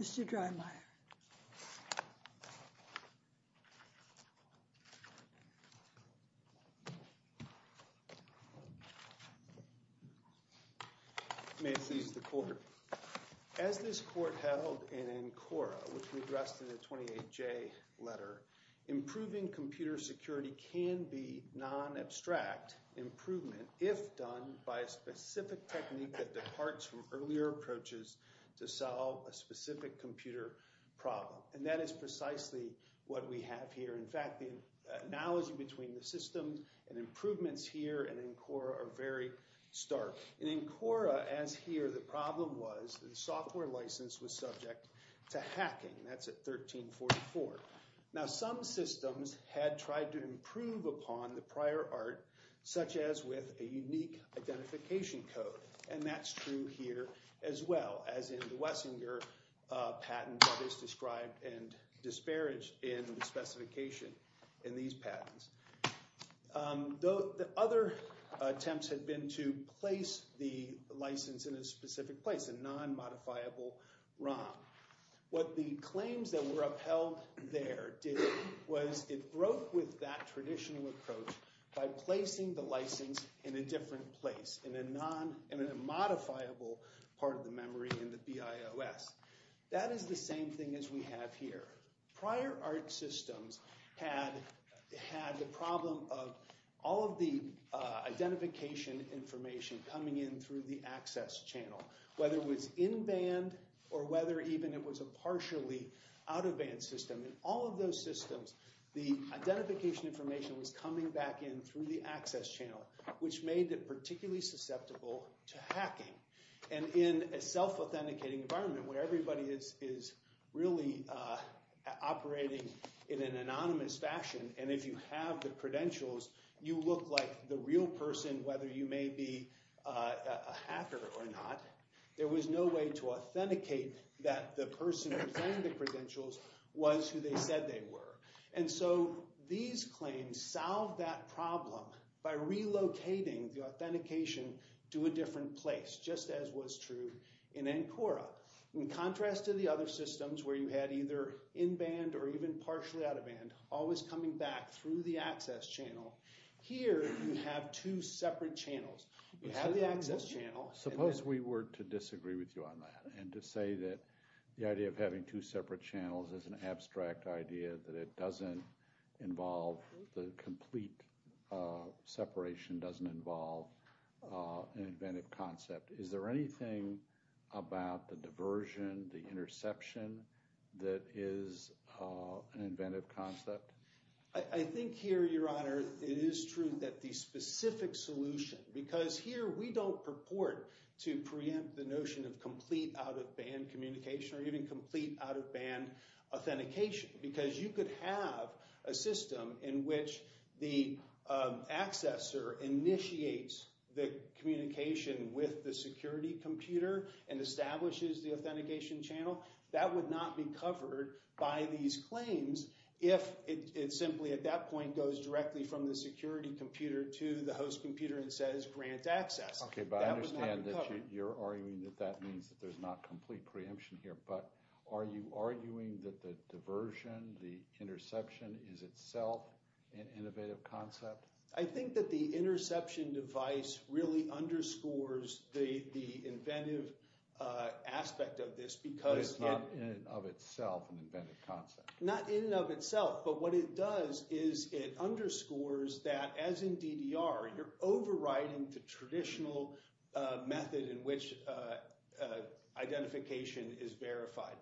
Mr. Dreymeier May it please the Court, as this Court held in ANCORA, which we addressed in the 28J letter, improving computer security can be non-abstract improvement if done by a specific technique that departs from earlier approaches to solve a specific computer problem. And that is precisely what we have here. In fact, the analogy between the systems and improvements here and ANCORA are very stark. In ANCORA, as here, the problem was that the software license was subject to hacking. That's at 1344. Now, some systems had tried to improve upon the prior art, such as with a unique identification code. And that's true here as well, as in the Wessinger patent that is described and disparaged in the specification in these patents. The other attempts had been to place the license in a specific place, a non-modifiable ROM. What the claims that were upheld there did was it broke with that traditional approach by placing the license in a different place, in a modifiable part of the memory in the BIOS. That is the same thing as we have here. Prior art systems had the problem of all of the identification information coming in through the access channel, whether it was in-band or whether even it was a partially out-of-band system. In all of those systems, the identification information was coming back in through the access channel, which made it particularly susceptible to hacking. And in a self-authenticating environment, where everybody is really operating in an anonymous fashion, and if you have the credentials, you look like the real person, whether you may be a hacker or not, there was no way to authenticate that the person who claimed the credentials was who they said they were. And so these claims solved that problem by relocating the authentication to a different place, just as was true in ANCORA. In contrast to the other systems where you had either in-band or even partially out-of-band, always coming back through the access channel, here you have two separate channels. You have the access channel... Suppose we were to disagree with you on that and to say that the idea of having two separate channels is an abstract idea, that it doesn't involve the complete separation, doesn't involve an inventive concept. Is there anything about the diversion, the interception, that is an inventive concept? I think here, Your Honor, it is true that the specific solution... Because here we don't purport to preempt the notion of complete out-of-band communication or even complete out-of-band authentication, because you could have a system in which the accessor initiates the communication with the security computer and establishes the authentication channel. That would not be covered by these claims if it simply, at that point, goes directly from the security computer to the host computer and says, grant access. Okay, but I understand that you're arguing that that means that there's not complete preemption here, but are you arguing that the diversion, the interception, is itself an innovative concept? I think that the interception device really underscores the inventive aspect of this because... It's not in and of itself an inventive concept. Not in and of itself, but what it does is it underscores that, as in DDR, you're in a system in which identification is verified.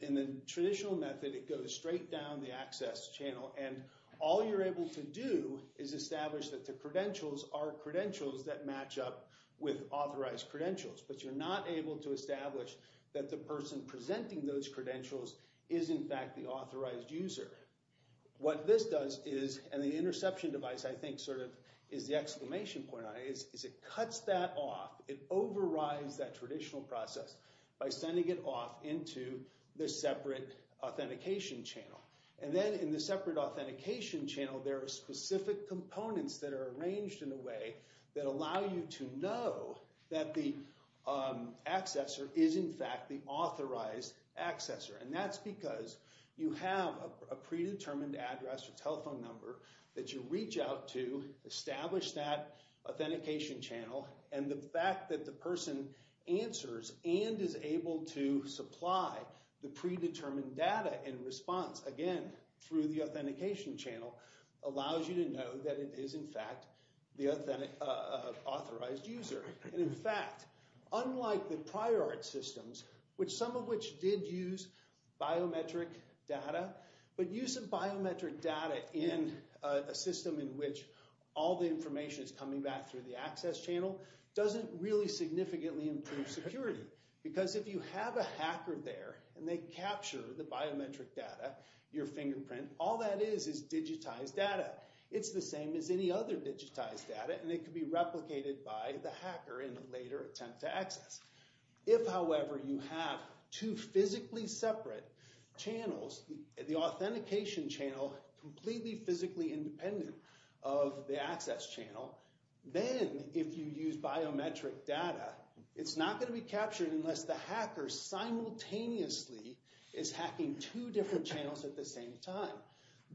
In the traditional method, it goes straight down the access channel, and all you're able to do is establish that the credentials are credentials that match up with authorized credentials, but you're not able to establish that the person presenting those credentials is, in fact, the authorized user. What this does is... And the traditional process by sending it off into the separate authentication channel, and then in the separate authentication channel, there are specific components that are arranged in a way that allow you to know that the accessor is, in fact, the authorized accessor, and that's because you have a predetermined address or telephone number that you reach out to establish that answers and is able to supply the predetermined data in response, again, through the authentication channel, allows you to know that it is, in fact, the authorized user. And, in fact, unlike the prior art systems, which some of which did use biometric data, but use of biometric data in a system in which all the information is coming back through the access channel doesn't really significantly improve security, because if you have a hacker there and they capture the biometric data, your fingerprint, all that is is digitized data. It's the same as any other digitized data, and it could be replicated by the hacker in a later attempt to access. If, however, you have two physically separate channels, the authentication channel completely independent of the access channel, then if you use biometric data, it's not going to be captured unless the hacker simultaneously is hacking two different channels at the same time.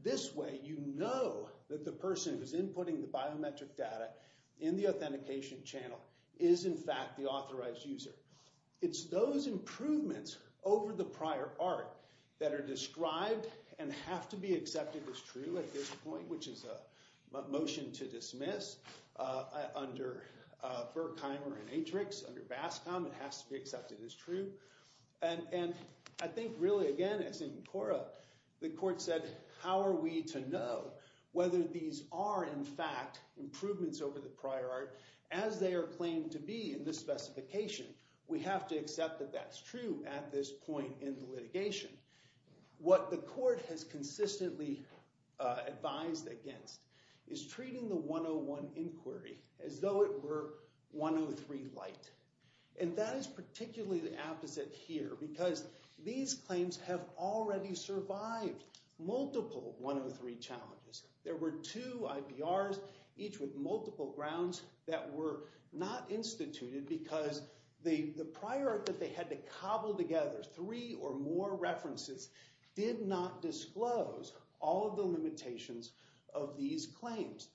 This way, you know that the person who's inputting the biometric data in the authentication channel is, in fact, the authorized user. It's those improvements over the prior art that are which is a motion to dismiss under Berkheimer and Atrix, under BASCOM. It has to be accepted as true. And I think, really, again, as in CORA, the court said, how are we to know whether these are, in fact, improvements over the prior art as they are claimed to be in this specification? We have to accept that that's true at this point in the litigation. What the court has consistently advised against is treating the 101 inquiry as though it were 103 light. And that is particularly the opposite here, because these claims have already survived multiple 103 challenges. There were two IPRs, each with multiple grounds, that were not instituted because the prior art that they had to cobble together three or more references did not disclose all of the limitations of these claims.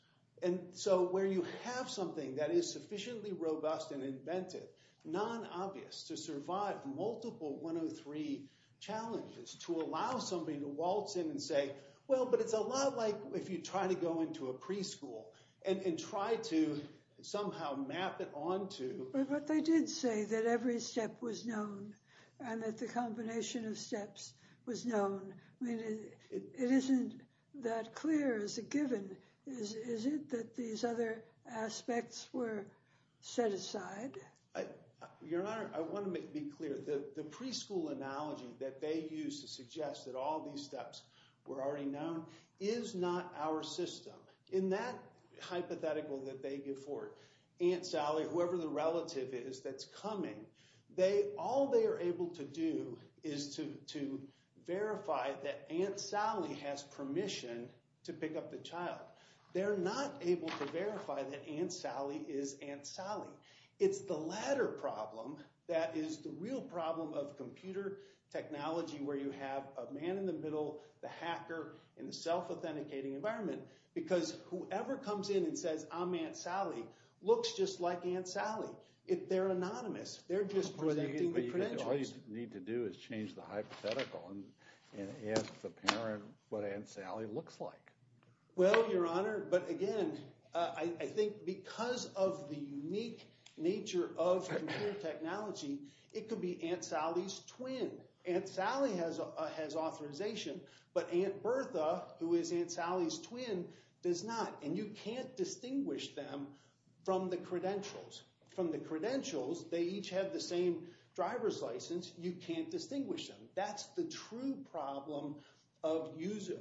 And so where you have something that is sufficiently robust and inventive, non-obvious, to survive multiple 103 challenges, to allow somebody to waltz in and say, well, but it's a lot like if you try to go into a preschool and try to somehow map it onto. But they did say that every step was known and that the combination of steps was known. I mean, it isn't that clear as a given. Is it that these other aspects were set aside? Your Honor, I want to be clear. The preschool analogy that they used to suggest that all these steps were already known is not our system. In that hypothetical that they give forward, Aunt Sally, whoever the relative is that's coming, all they are able to do is to verify that Aunt Sally has permission to pick up the child. They're not able to verify that Aunt Sally is Aunt Sally. It's the latter problem that is the real problem of computer technology, where you have a man in the middle, the hacker, in the self-authenticating environment. Because whoever comes in and says, I'm Aunt Sally, looks just like Aunt Sally. They're anonymous. They're just presenting the credentials. All you need to do is change the hypothetical and ask the parent what Aunt Sally looks like. Well, Your Honor, but again, I think because of the unique nature of computer technology, it could be Aunt Sally's twin. Aunt Sally has authorization, but Aunt Bertha, who is Aunt Bertha, can't distinguish them from the credentials. From the credentials, they each have the same driver's license. You can't distinguish them. That's the true problem of user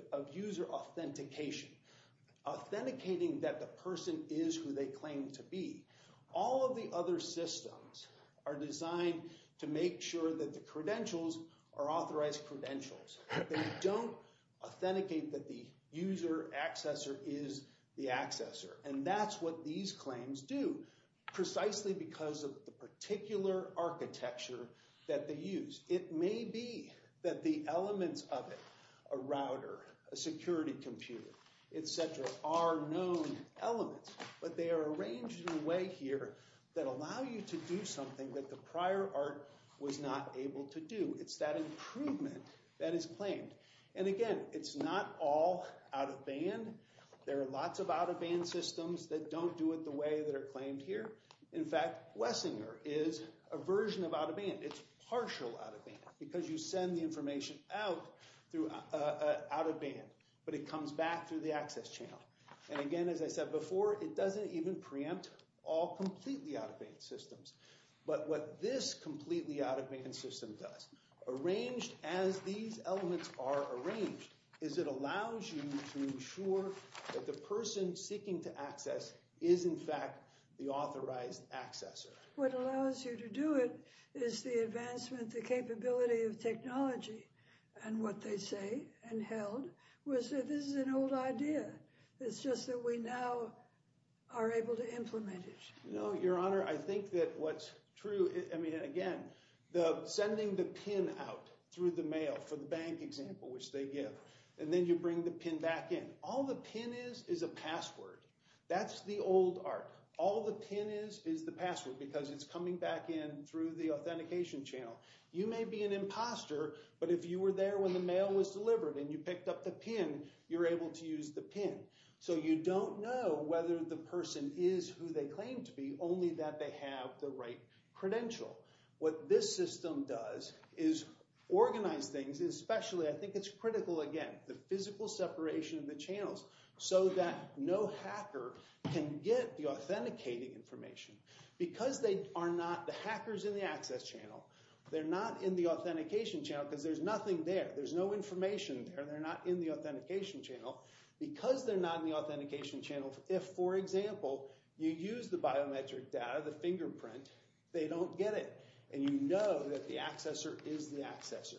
authentication. Authenticating that the person is who they claim to be. All of the other systems are designed to make sure that the credentials are authorized credentials. They don't authenticate that the user accessor is the accessor. That's what these claims do, precisely because of the particular architecture that they use. It may be that the elements of it, a router, a security computer, etc., are known elements, but they are arranged in a way here that allow you to do something that prior art was not able to do. It's that improvement that is claimed. Again, it's not all out-of-band. There are lots of out-of-band systems that don't do it the way that are claimed here. In fact, Wessinger is a version of out-of-band. It's partial out-of-band because you send the information out through out-of-band, but it comes back through the access channel. Again, as I said this completely out-of-band system does, arranged as these elements are arranged, is it allows you to ensure that the person seeking to access is in fact the authorized accessor. What allows you to do it is the advancement, the capability of technology, and what they say and held was that this is an old idea. It's just that we now are able to implement it. Your Honor, I think that what's true, again, sending the PIN out through the mail for the bank example, which they give, and then you bring the PIN back in. All the PIN is is a password. That's the old art. All the PIN is is the password because it's coming back in through the authentication channel. You may be an imposter, but if you were there when the mail was delivered and you picked up the PIN, you're able to use the PIN. You don't know whether the person is who they claim to be, only that they have the right credential. What this system does is organize things, especially, I think it's critical again, the physical separation of the channels so that no hacker can get the authenticating information because they are not the hackers in the access channel. They're not in the authentication channel because there's nothing there. There's no information there. They're not in the authentication channel because they're not in the authentication channel. If, for example, you use the biometric data, the fingerprint, they don't get it and you know that the accessor is the accessor.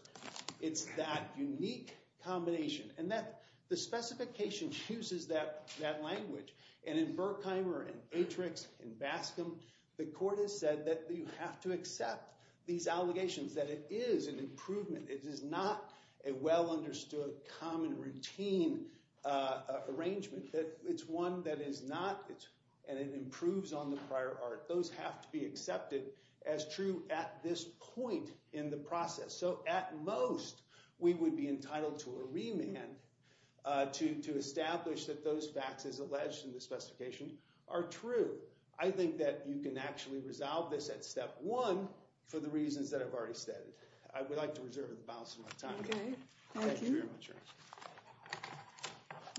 It's that unique combination and that the specification chooses that language. And in Berkheimer and Atrix and Bascom, the court has said that you have to accept these allegations that it is an improvement. It is not a well understood common routine arrangement. That it's one that is not and it improves on the prior art. Those have to be accepted as true at this point in the process. So at most, we would be entitled to a remand to establish that those facts as alleged in the specification are true. I think that you can actually resolve this at step one for the reasons that I've already stated. I would like to reserve the balance of my time. Okay, thank you.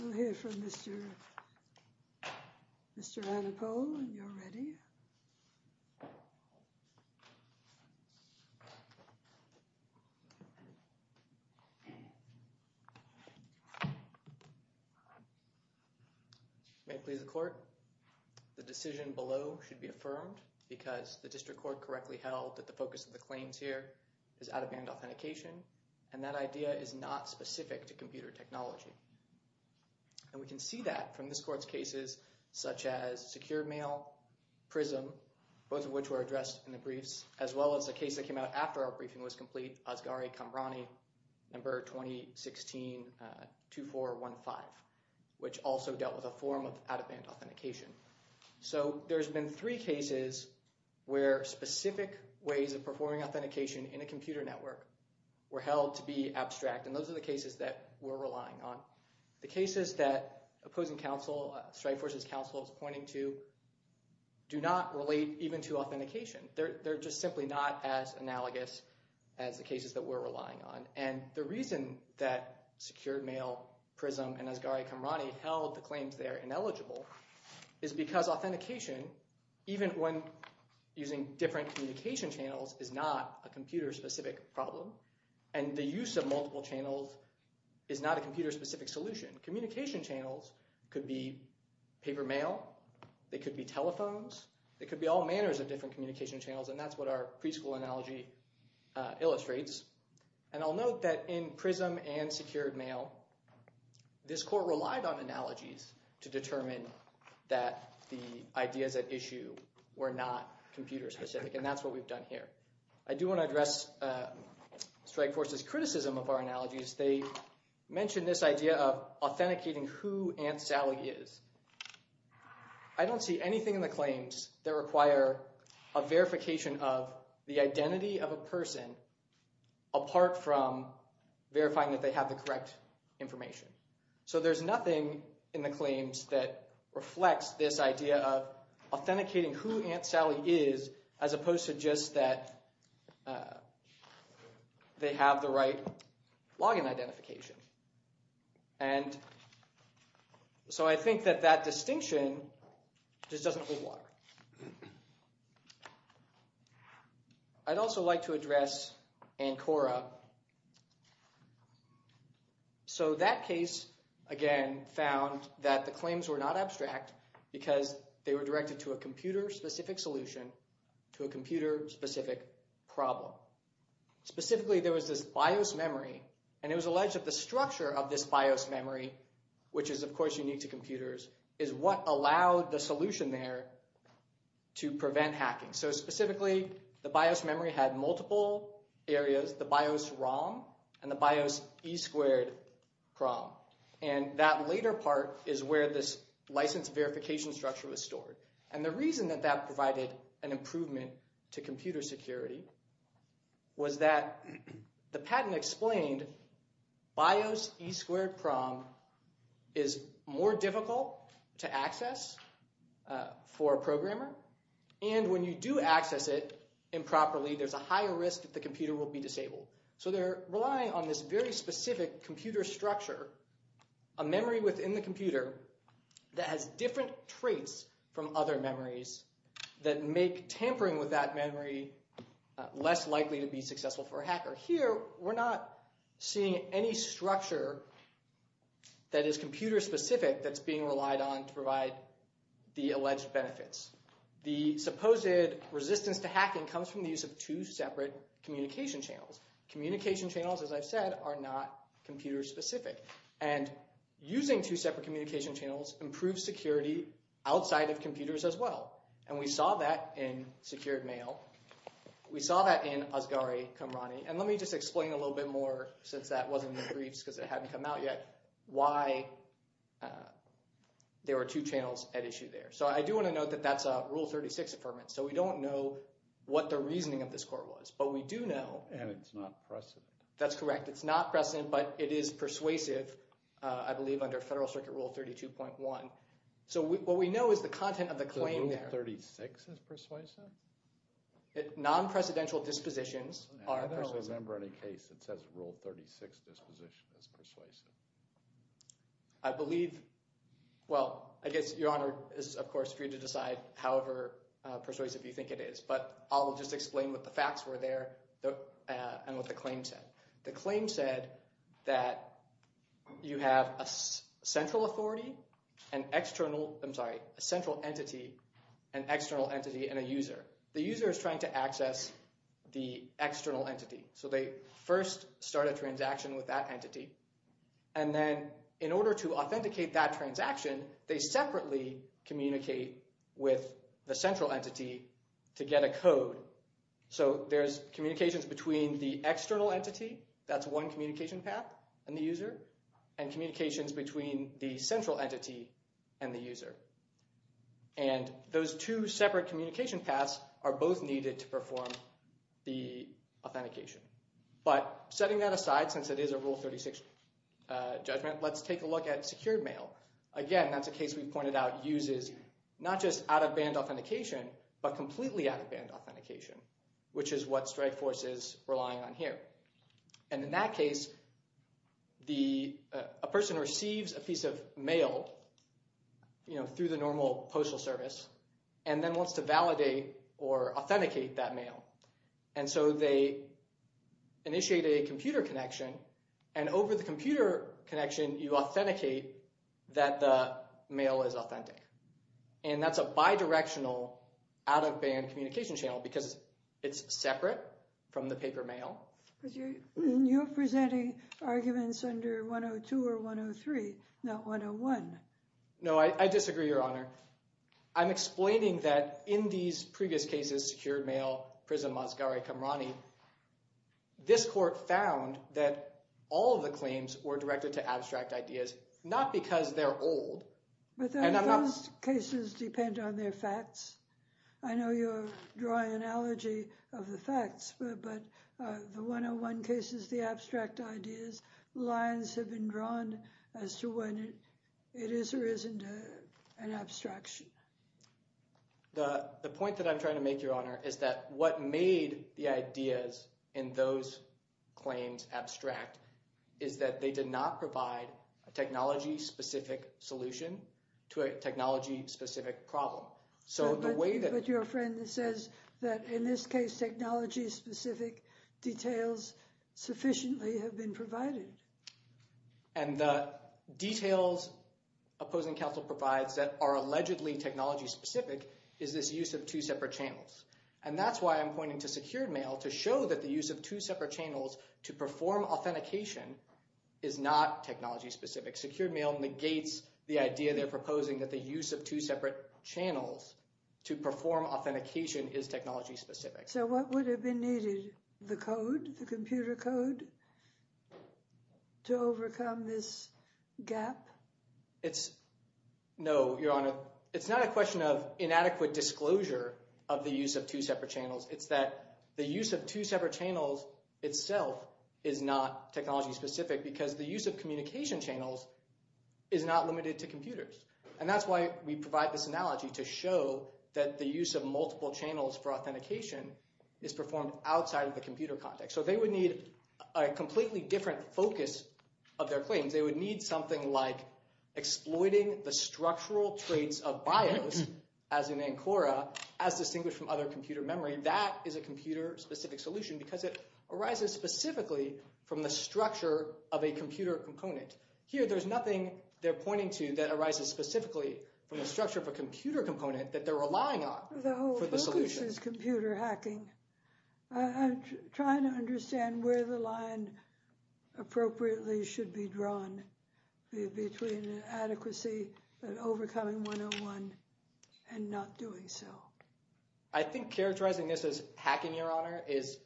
I'll hear from Mr. Annapol and you're ready. May it please the court. The decision below should be affirmed because the district court correctly held that the focus of the claims here is out-of-band authentication and that idea is not specific to computer technology. And we can see that from this court's cases such as secured mail, PRISM, both of which were addressed in the briefs, as well as the case that came out after our briefing was complete, Asghari-Kambrani, number 2016-2415, which also dealt with a form out-of-band authentication. So there's been three cases where specific ways of performing authentication in a computer network were held to be abstract. And those are the cases that we're relying on. The cases that opposing counsel, Strike Forces counsel is pointing to, do not relate even to authentication. They're just simply not as analogous as the cases that we're relying on. And the reason that secured mail, PRISM, and Asghari-Kambrani held the claims they're ineligible is because authentication, even when using different communication channels, is not a computer-specific problem. And the use of multiple channels is not a computer-specific solution. Communication channels could be paper mail, they could be telephones, they could be all manners of different communication channels. And that's what our preschool analogy illustrates. And I'll note that in PRISM and secured mail, this court relied on analogies to determine that the ideas at issue were not computer-specific. And that's what we've done here. I do want to address Strike Forces' criticism of our analogies. They mentioned this idea of authenticating who Aunt Sally is. I don't see anything in the claims that require a verification of the identity of a person apart from verifying that they have the correct information. So there's nothing in the claims that reflects this idea of authenticating who Aunt Sally is as opposed to just that they have the right login identification. And so I think that that distinction just doesn't work. I'd also like to address ANCORA. So that case, again, found that the claims were not abstract because they were directed to a computer-specific solution to a computer-specific problem. Specifically, there was this BIOS memory and it was alleged that the structure of this BIOS memory, which is of course unique to computers, is what allowed the solution there to prevent hacking. So specifically, the BIOS memory had multiple areas, the BIOS ROM and the BIOS E-squared PROM. And that later part is where this license verification structure was stored. And the reason that that provided an improvement to computer to access for a programmer. And when you do access it improperly, there's a higher risk that the computer will be disabled. So they're relying on this very specific computer structure, a memory within the computer that has different traits from other memories that make tampering with that memory less likely to be successful for a hacker. Here, we're not seeing any structure that is computer-specific that's being relied on to provide the alleged benefits. The supposed resistance to hacking comes from the use of two separate communication channels. Communication channels, as I've said, are not computer-specific. And using two separate communication channels improves security outside of computers as well. And we saw that in Secured Mail. We saw that in Asghari Kamrani. And let me just explain a little bit more since that wasn't in the briefs because it hadn't come out yet, why there were two channels at issue there. So I do want to note that that's a Rule 36 Affirmative. So we don't know what the reasoning of this court was, but we do know. And it's not precedent. That's correct. It's not precedent, but it is persuasive, I believe, under Federal Circuit Rule 32.1. So what we know is the content of the claim there. Rule 36 is persuasive? Non-precedential dispositions are persuasive. I don't remember any case that says Rule 36 disposition is persuasive. I believe, well, I guess Your Honor is of course free to decide however persuasive you think it is. But I'll just explain what the facts were there and what the claim said. The claim said that you have a central authority, an external, I'm sorry, a central entity, an external entity, and a user. The user is trying to access the external entity. So they first start a transaction with that entity. And then in order to authenticate that transaction, they separately communicate with the central entity to get a code. So there's communications between the external entity, that's one communication path, and the user, and communications between the central entity and the user. And those two separate communication paths are both needed to perform the authentication. But setting that aside, since it is a Rule 36 judgment, let's take a look at secured mail. Again, that's a case we've pointed out uses not just out-of-band authentication, but completely out-of-band authentication, which is what Strikeforce is relying on here. And in that case, the, a person receives a piece of mail, you know, through the normal postal service, and then wants to validate or authenticate that mail. And so they initiate a computer connection. And over the computer connection, you authenticate that the mail is authentic. And that's a bi-directional, out-of-band communication because it's separate from the paper mail. You're presenting arguments under 102 or 103, not 101. No, I disagree, Your Honor. I'm explaining that in these previous cases, secured mail, PRISM, Mozgare-Qamrani, this court found that all of the claims were directed to abstract ideas, not because they're old. But those cases depend on their facts. I know you're drawing an analogy of the facts, but the 101 cases, the abstract ideas, lines have been drawn as to whether it is or isn't an abstraction. The point that I'm trying to make, Your Honor, is that what made the ideas in those claims abstract is that they did not provide a technology-specific solution to a technology-specific problem. But your friend says that in this case, technology-specific details sufficiently have been provided. And the details opposing counsel provides that are allegedly technology-specific is this use of two separate channels. And that's why I'm pointing to secured mail, to show that the use of two separate channels to perform authentication is not technology-specific. Secured mail negates the idea they're proposing that the use of two separate channels to perform authentication is technology-specific. So what would have been needed, the code, the computer code, to overcome this gap? It's, no, Your Honor, it's not a question of inadequate disclosure of the use of two separate channels. It's that the use of two separate channels itself is not technology-specific because the use of communication channels is not limited to computers. And that's why we provide this analogy to show that the use of multiple channels for authentication is performed outside of the computer context. So they would need a completely different focus of their claims. They would need something like exploiting the structural traits of BIOS, as in ANCORA, as distinguished from other computer memory. That is a computer-specific solution because it arises specifically from the structure of a computer component. Here, there's nothing they're pointing to that arises specifically from the structure of a computer component that they're relying on for the solution. The whole focus is computer hacking. I'm trying to understand where the line appropriately should be drawn between an adequacy and overcoming 101 and not doing so. I think characterizing this as hacking, Your Honor, is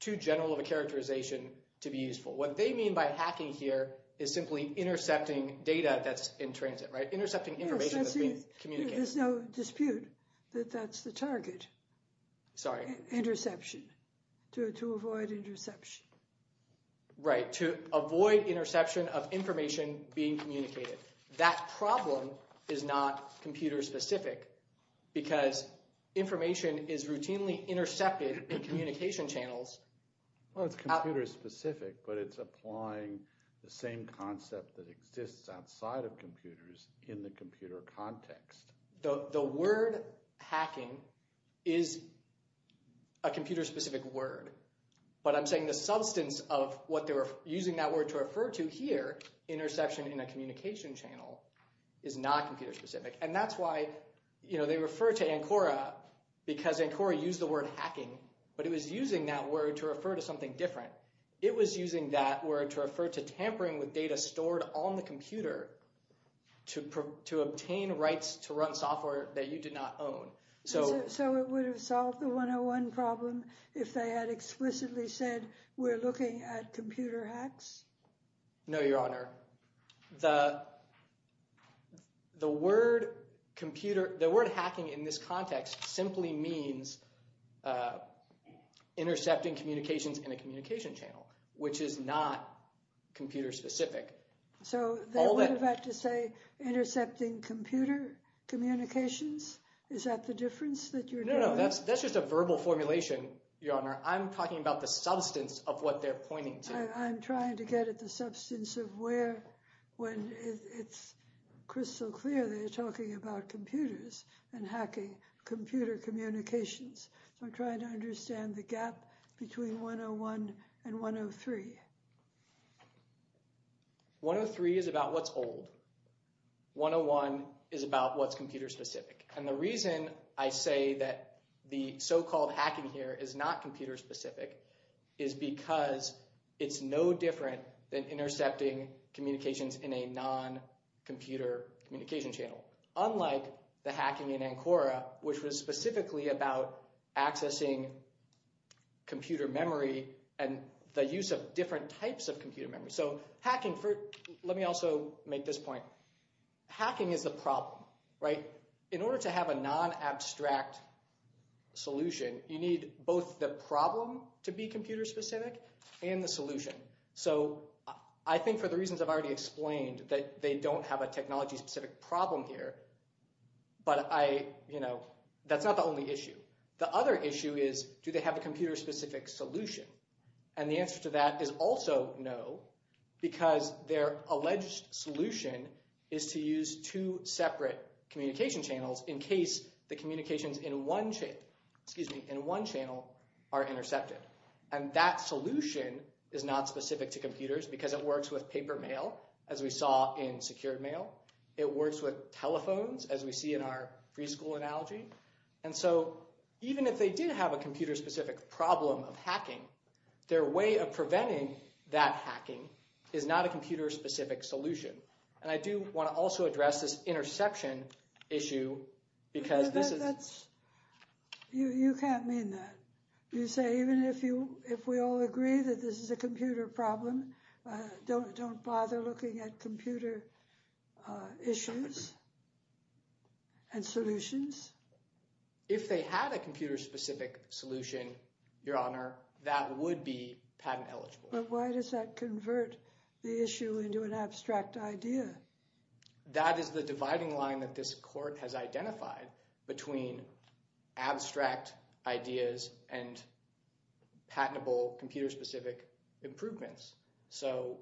too general of a characterization to be useful. What they mean by hacking here is simply intercepting data that's in transit, right? Intercepting information that's being communicated. There's no dispute that that's the target. Sorry? Interception. To avoid interception. Right. To avoid interception of information being communicated. That problem is not computer-specific because information is routinely intercepted in communication channels. Well, it's computer-specific, but it's applying the same concept that exists outside of computers in the computer context. The word hacking is a computer-specific word, but I'm saying the substance of what they were communicating in a communication channel is not computer-specific. And that's why they refer to ANCORA because ANCORA used the word hacking, but it was using that word to refer to something different. It was using that word to refer to tampering with data stored on the computer to obtain rights to run software that you did not own. So it would have solved the 101 problem if they had explicitly said, we're looking at computer hacks? No, Your Honor. The word hacking in this context simply means intercepting communications in a communication channel, which is not computer-specific. So that would have had to say intercepting computer communications? Is that the difference that you're doing? No, no. That's just a verbal formulation, Your Honor. I'm talking about the substance of what they're pointing to. I'm trying to get at the substance of where, when it's crystal clear they're talking about computers and hacking computer communications. So I'm trying to understand the gap between 101 and 103. 103 is about what's old. 101 is about what's computer-specific. And the reason I say that the so-called hacking here is not computer-specific is because it's no different than intercepting communications in a non-computer communication channel, unlike the hacking in ANCORA, which was specifically about accessing computer memory and the use of different types of computer memory. So hacking for, let me also make this point. Hacking is the problem, right? In order to have a non-abstract solution, you need both the problem to be computer-specific and the solution. So I think for the reasons I've already explained, that they don't have a technology-specific problem here, but that's not the only issue. The other issue is, do they have a computer-specific solution? And the answer to that is also no, because their alleged solution is to use two separate communication channels in case the communications in one channel are intercepted. And that solution is not specific to computers because it works with paper mail, as we saw in secured mail. It works with telephones, as we see in our preschool analogy. And so even if they did have a computer-specific problem of hacking, their way of preventing that hacking is not a computer-specific solution. And I do want to also address this interception issue, because this is... But that's, you can't mean that. You say even if we all agree that this is a computer problem, don't bother looking at computer issues and solutions? If they had a computer-specific solution, Your Honor, that would be patent eligible. But why does that convert the issue into an abstract idea? That is the dividing line that this Court has identified between abstract ideas and patentable computer-specific improvements. So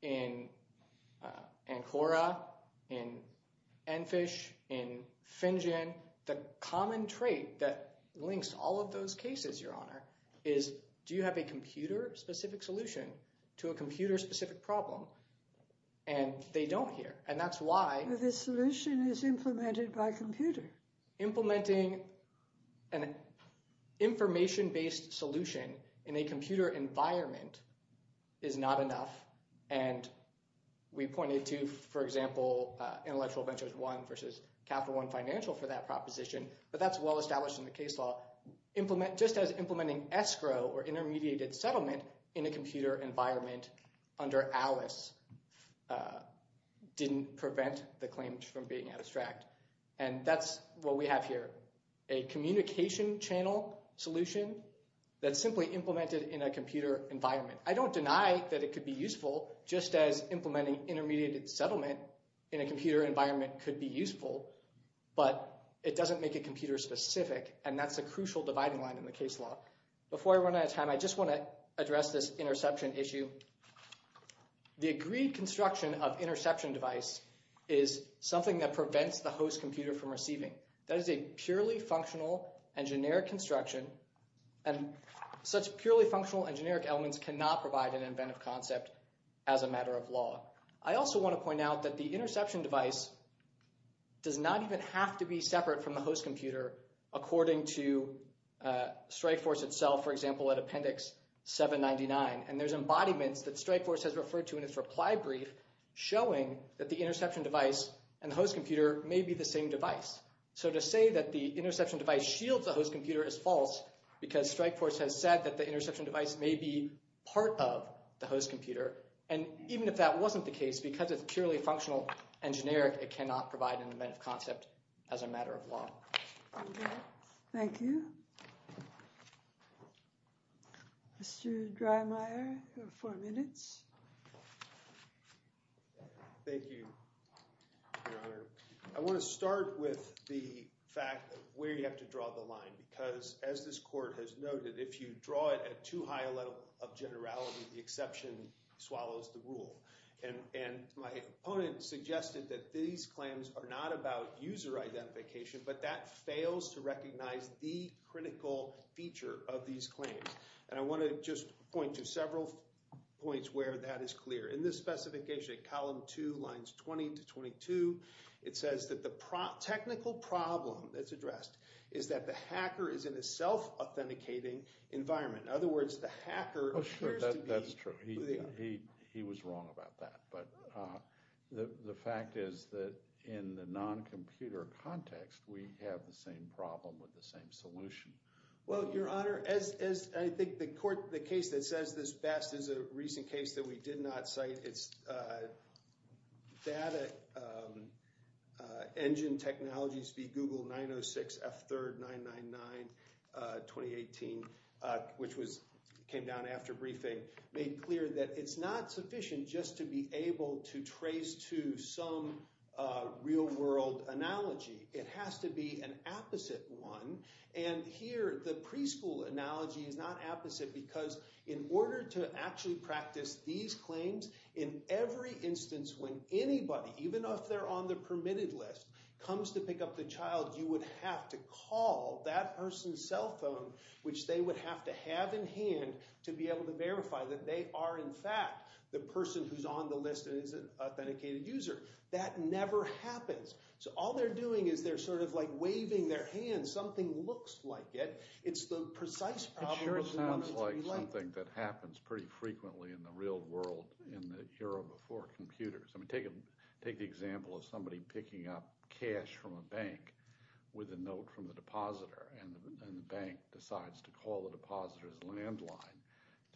in ANCORA, in ENFISH, in FINGEN, the common trait that links all of those cases, Your Honor, is that they don't hear that there is a computer-specific solution to a computer-specific problem, and they don't hear. And that's why... But this solution is implemented by a computer. Implementing an information-based solution in a computer environment is not enough. And we pointed to, for example, Intellectual Ventures I versus Capital One Financial for that proposition. But that's well-established in the case law. Just as implementing escrow or intermediated settlement in a computer environment under ALICE didn't prevent the claims from being abstract. And that's what we have here, a communication channel solution that's simply implemented in a computer environment. I don't deny that it could be useful, just as implementing intermediated settlement in a computer environment could be useful. But it doesn't make it computer-specific, and that's a crucial dividing line in the case law. Before I run out of time, I just want to address this interception issue. The agreed construction of interception device is something that prevents the host computer from receiving. That is a purely functional and generic construction, and such purely functional and generic elements cannot provide an inventive concept as a matter of law. I also want to point out that the interception device does not even have to be separate from the host computer according to Strikeforce itself, for example, at Appendix 799. And there's embodiments that Strikeforce has referred to in its reply brief showing that the interception device and the host computer may be the same device. So to say that the interception device shields the host computer is false because Strikeforce has said that the interception device may be part of the host computer. And even if that wasn't the case, because it's purely functional and generic, it cannot provide an inventive concept as a matter of law. Thank you. Mr. Drymeier, you have four minutes. Thank you, Your Honor. I want to start with the fact of where you have to draw the line. Because as this court has noted, if you draw it at too high a level of generality, the interception device swallows the rule. And my opponent suggested that these claims are not about user identification, but that fails to recognize the critical feature of these claims. And I want to just point to several points where that is clear. In this specification, column two, lines 20 to 22, it says that the technical problem that's addressed is that the hacker is in a self-authenticating environment. In other words, the hacker appears to be... That's true. He was wrong about that. But the fact is that in the non-computer context, we have the same problem with the same solution. Well, Your Honor, as I think the case that says this best is a recent case that we did not cite. It's Data Engine Technologies v. Google 906 F3RD 999 2018, which came down after briefing, made clear that it's not sufficient just to be able to trace to some real-world analogy. It has to be an opposite one. And here, the preschool analogy is not opposite because in order to actually practice these claims, in every instance when anybody, even if they're on the permitted list, comes to pick up the child, you would have to call that person's cell phone, which they would have to have in hand to be able to verify that they are, in fact, the person who's on the list and is an authenticated user. That never happens. So all they're doing is they're sort of like waving their hand. Something looks like it. It's the precise problem of the moment to be late. It sure sounds like something that happens pretty frequently in the real world in the era before computers. I mean, take the example of somebody picking up cash from a bank with a note from the depositor's landline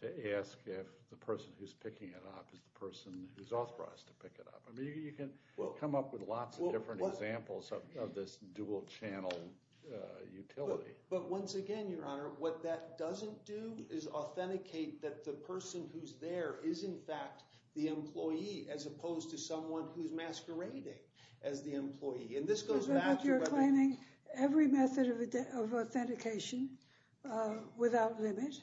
to ask if the person who's picking it up is the person who's authorized to pick it up. I mean, you can come up with lots of different examples of this dual-channel utility. But once again, Your Honor, what that doesn't do is authenticate that the person who's there is, in fact, the employee, as opposed to someone who's masquerading as the employee. And this goes back to whether— Without limit.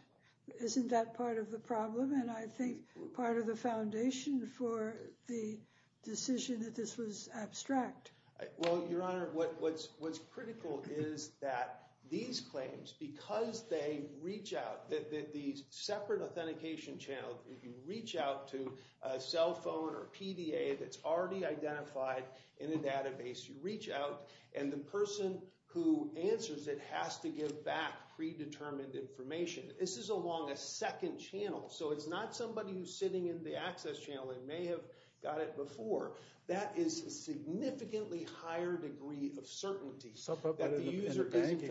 Isn't that part of the problem? And I think part of the foundation for the decision that this was abstract. Well, Your Honor, what's critical is that these claims, because they reach out, these separate authentication channels, you reach out to a cell phone or PDA that's already identified in a database. You reach out. And the person who answers it has to give back predetermined information. This is along a second channel. So it's not somebody who's sitting in the access channel. They may have got it before. That is a significantly higher degree of certainty. But in the bank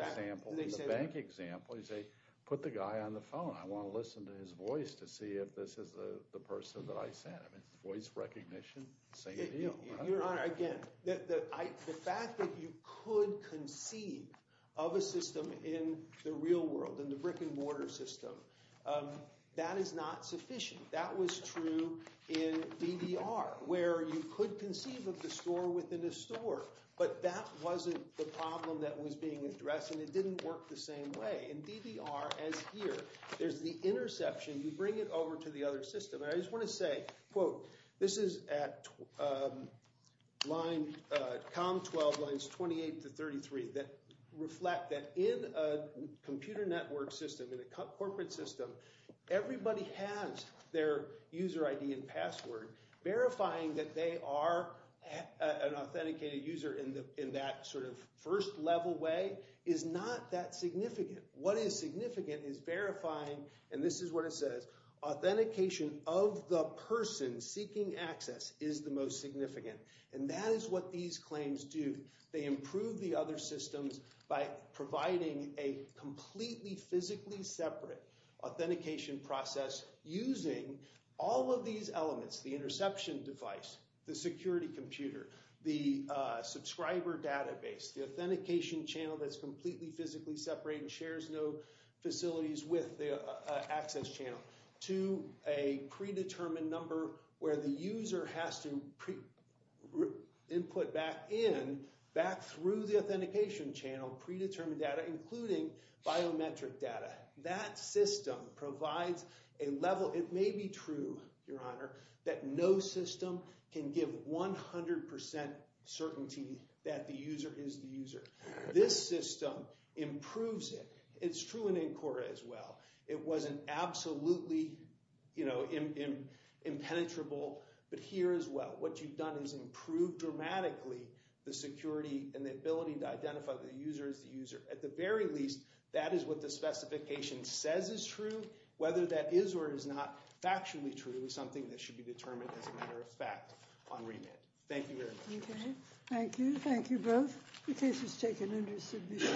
example, they say, put the guy on the phone. I want to listen to his voice to see if this is the person that I sent. I mean, voice recognition, same as you. Your Honor, again, the fact that you could conceive of a system in the real world, in the brick-and-mortar system, that is not sufficient. That was true in DDR, where you could conceive of the store within a store. But that wasn't the problem that was being addressed. And it didn't work the same way. In DDR, as here, there's the interception. You bring it over to the other system. I just want to say, quote, this is at COM 12 lines 28 to 33 that reflect that in a computer network system, in a corporate system, everybody has their user ID and password. Verifying that they are an authenticated user in that sort of first-level way is not that significant. What is significant is verifying, and this is what it says, authentication of the person seeking access is the most significant. And that is what these claims do. They improve the other systems by providing a completely physically separate authentication process using all of these elements, the interception device, the security computer, the subscriber database, the authentication channel that's completely physically separate and shares no facilities with the access channel, to a predetermined number where the user has to input back in, back through the authentication channel, predetermined data, including biometric data. That system provides a level, it may be true, Your Honor, that no system can give 100% certainty that the user is the user. This system improves it. It's true in NCORA as well. It wasn't absolutely impenetrable, but here as well. What you've done is improved dramatically the security and the ability to identify the user as the user. At the very least, that is what the specification says is true. Whether that is or is not factually true is something that should be determined as a matter of fact on remand. Thank you very much. Okay. Thank you. Thank you both. The case is taken under submission. Thank you.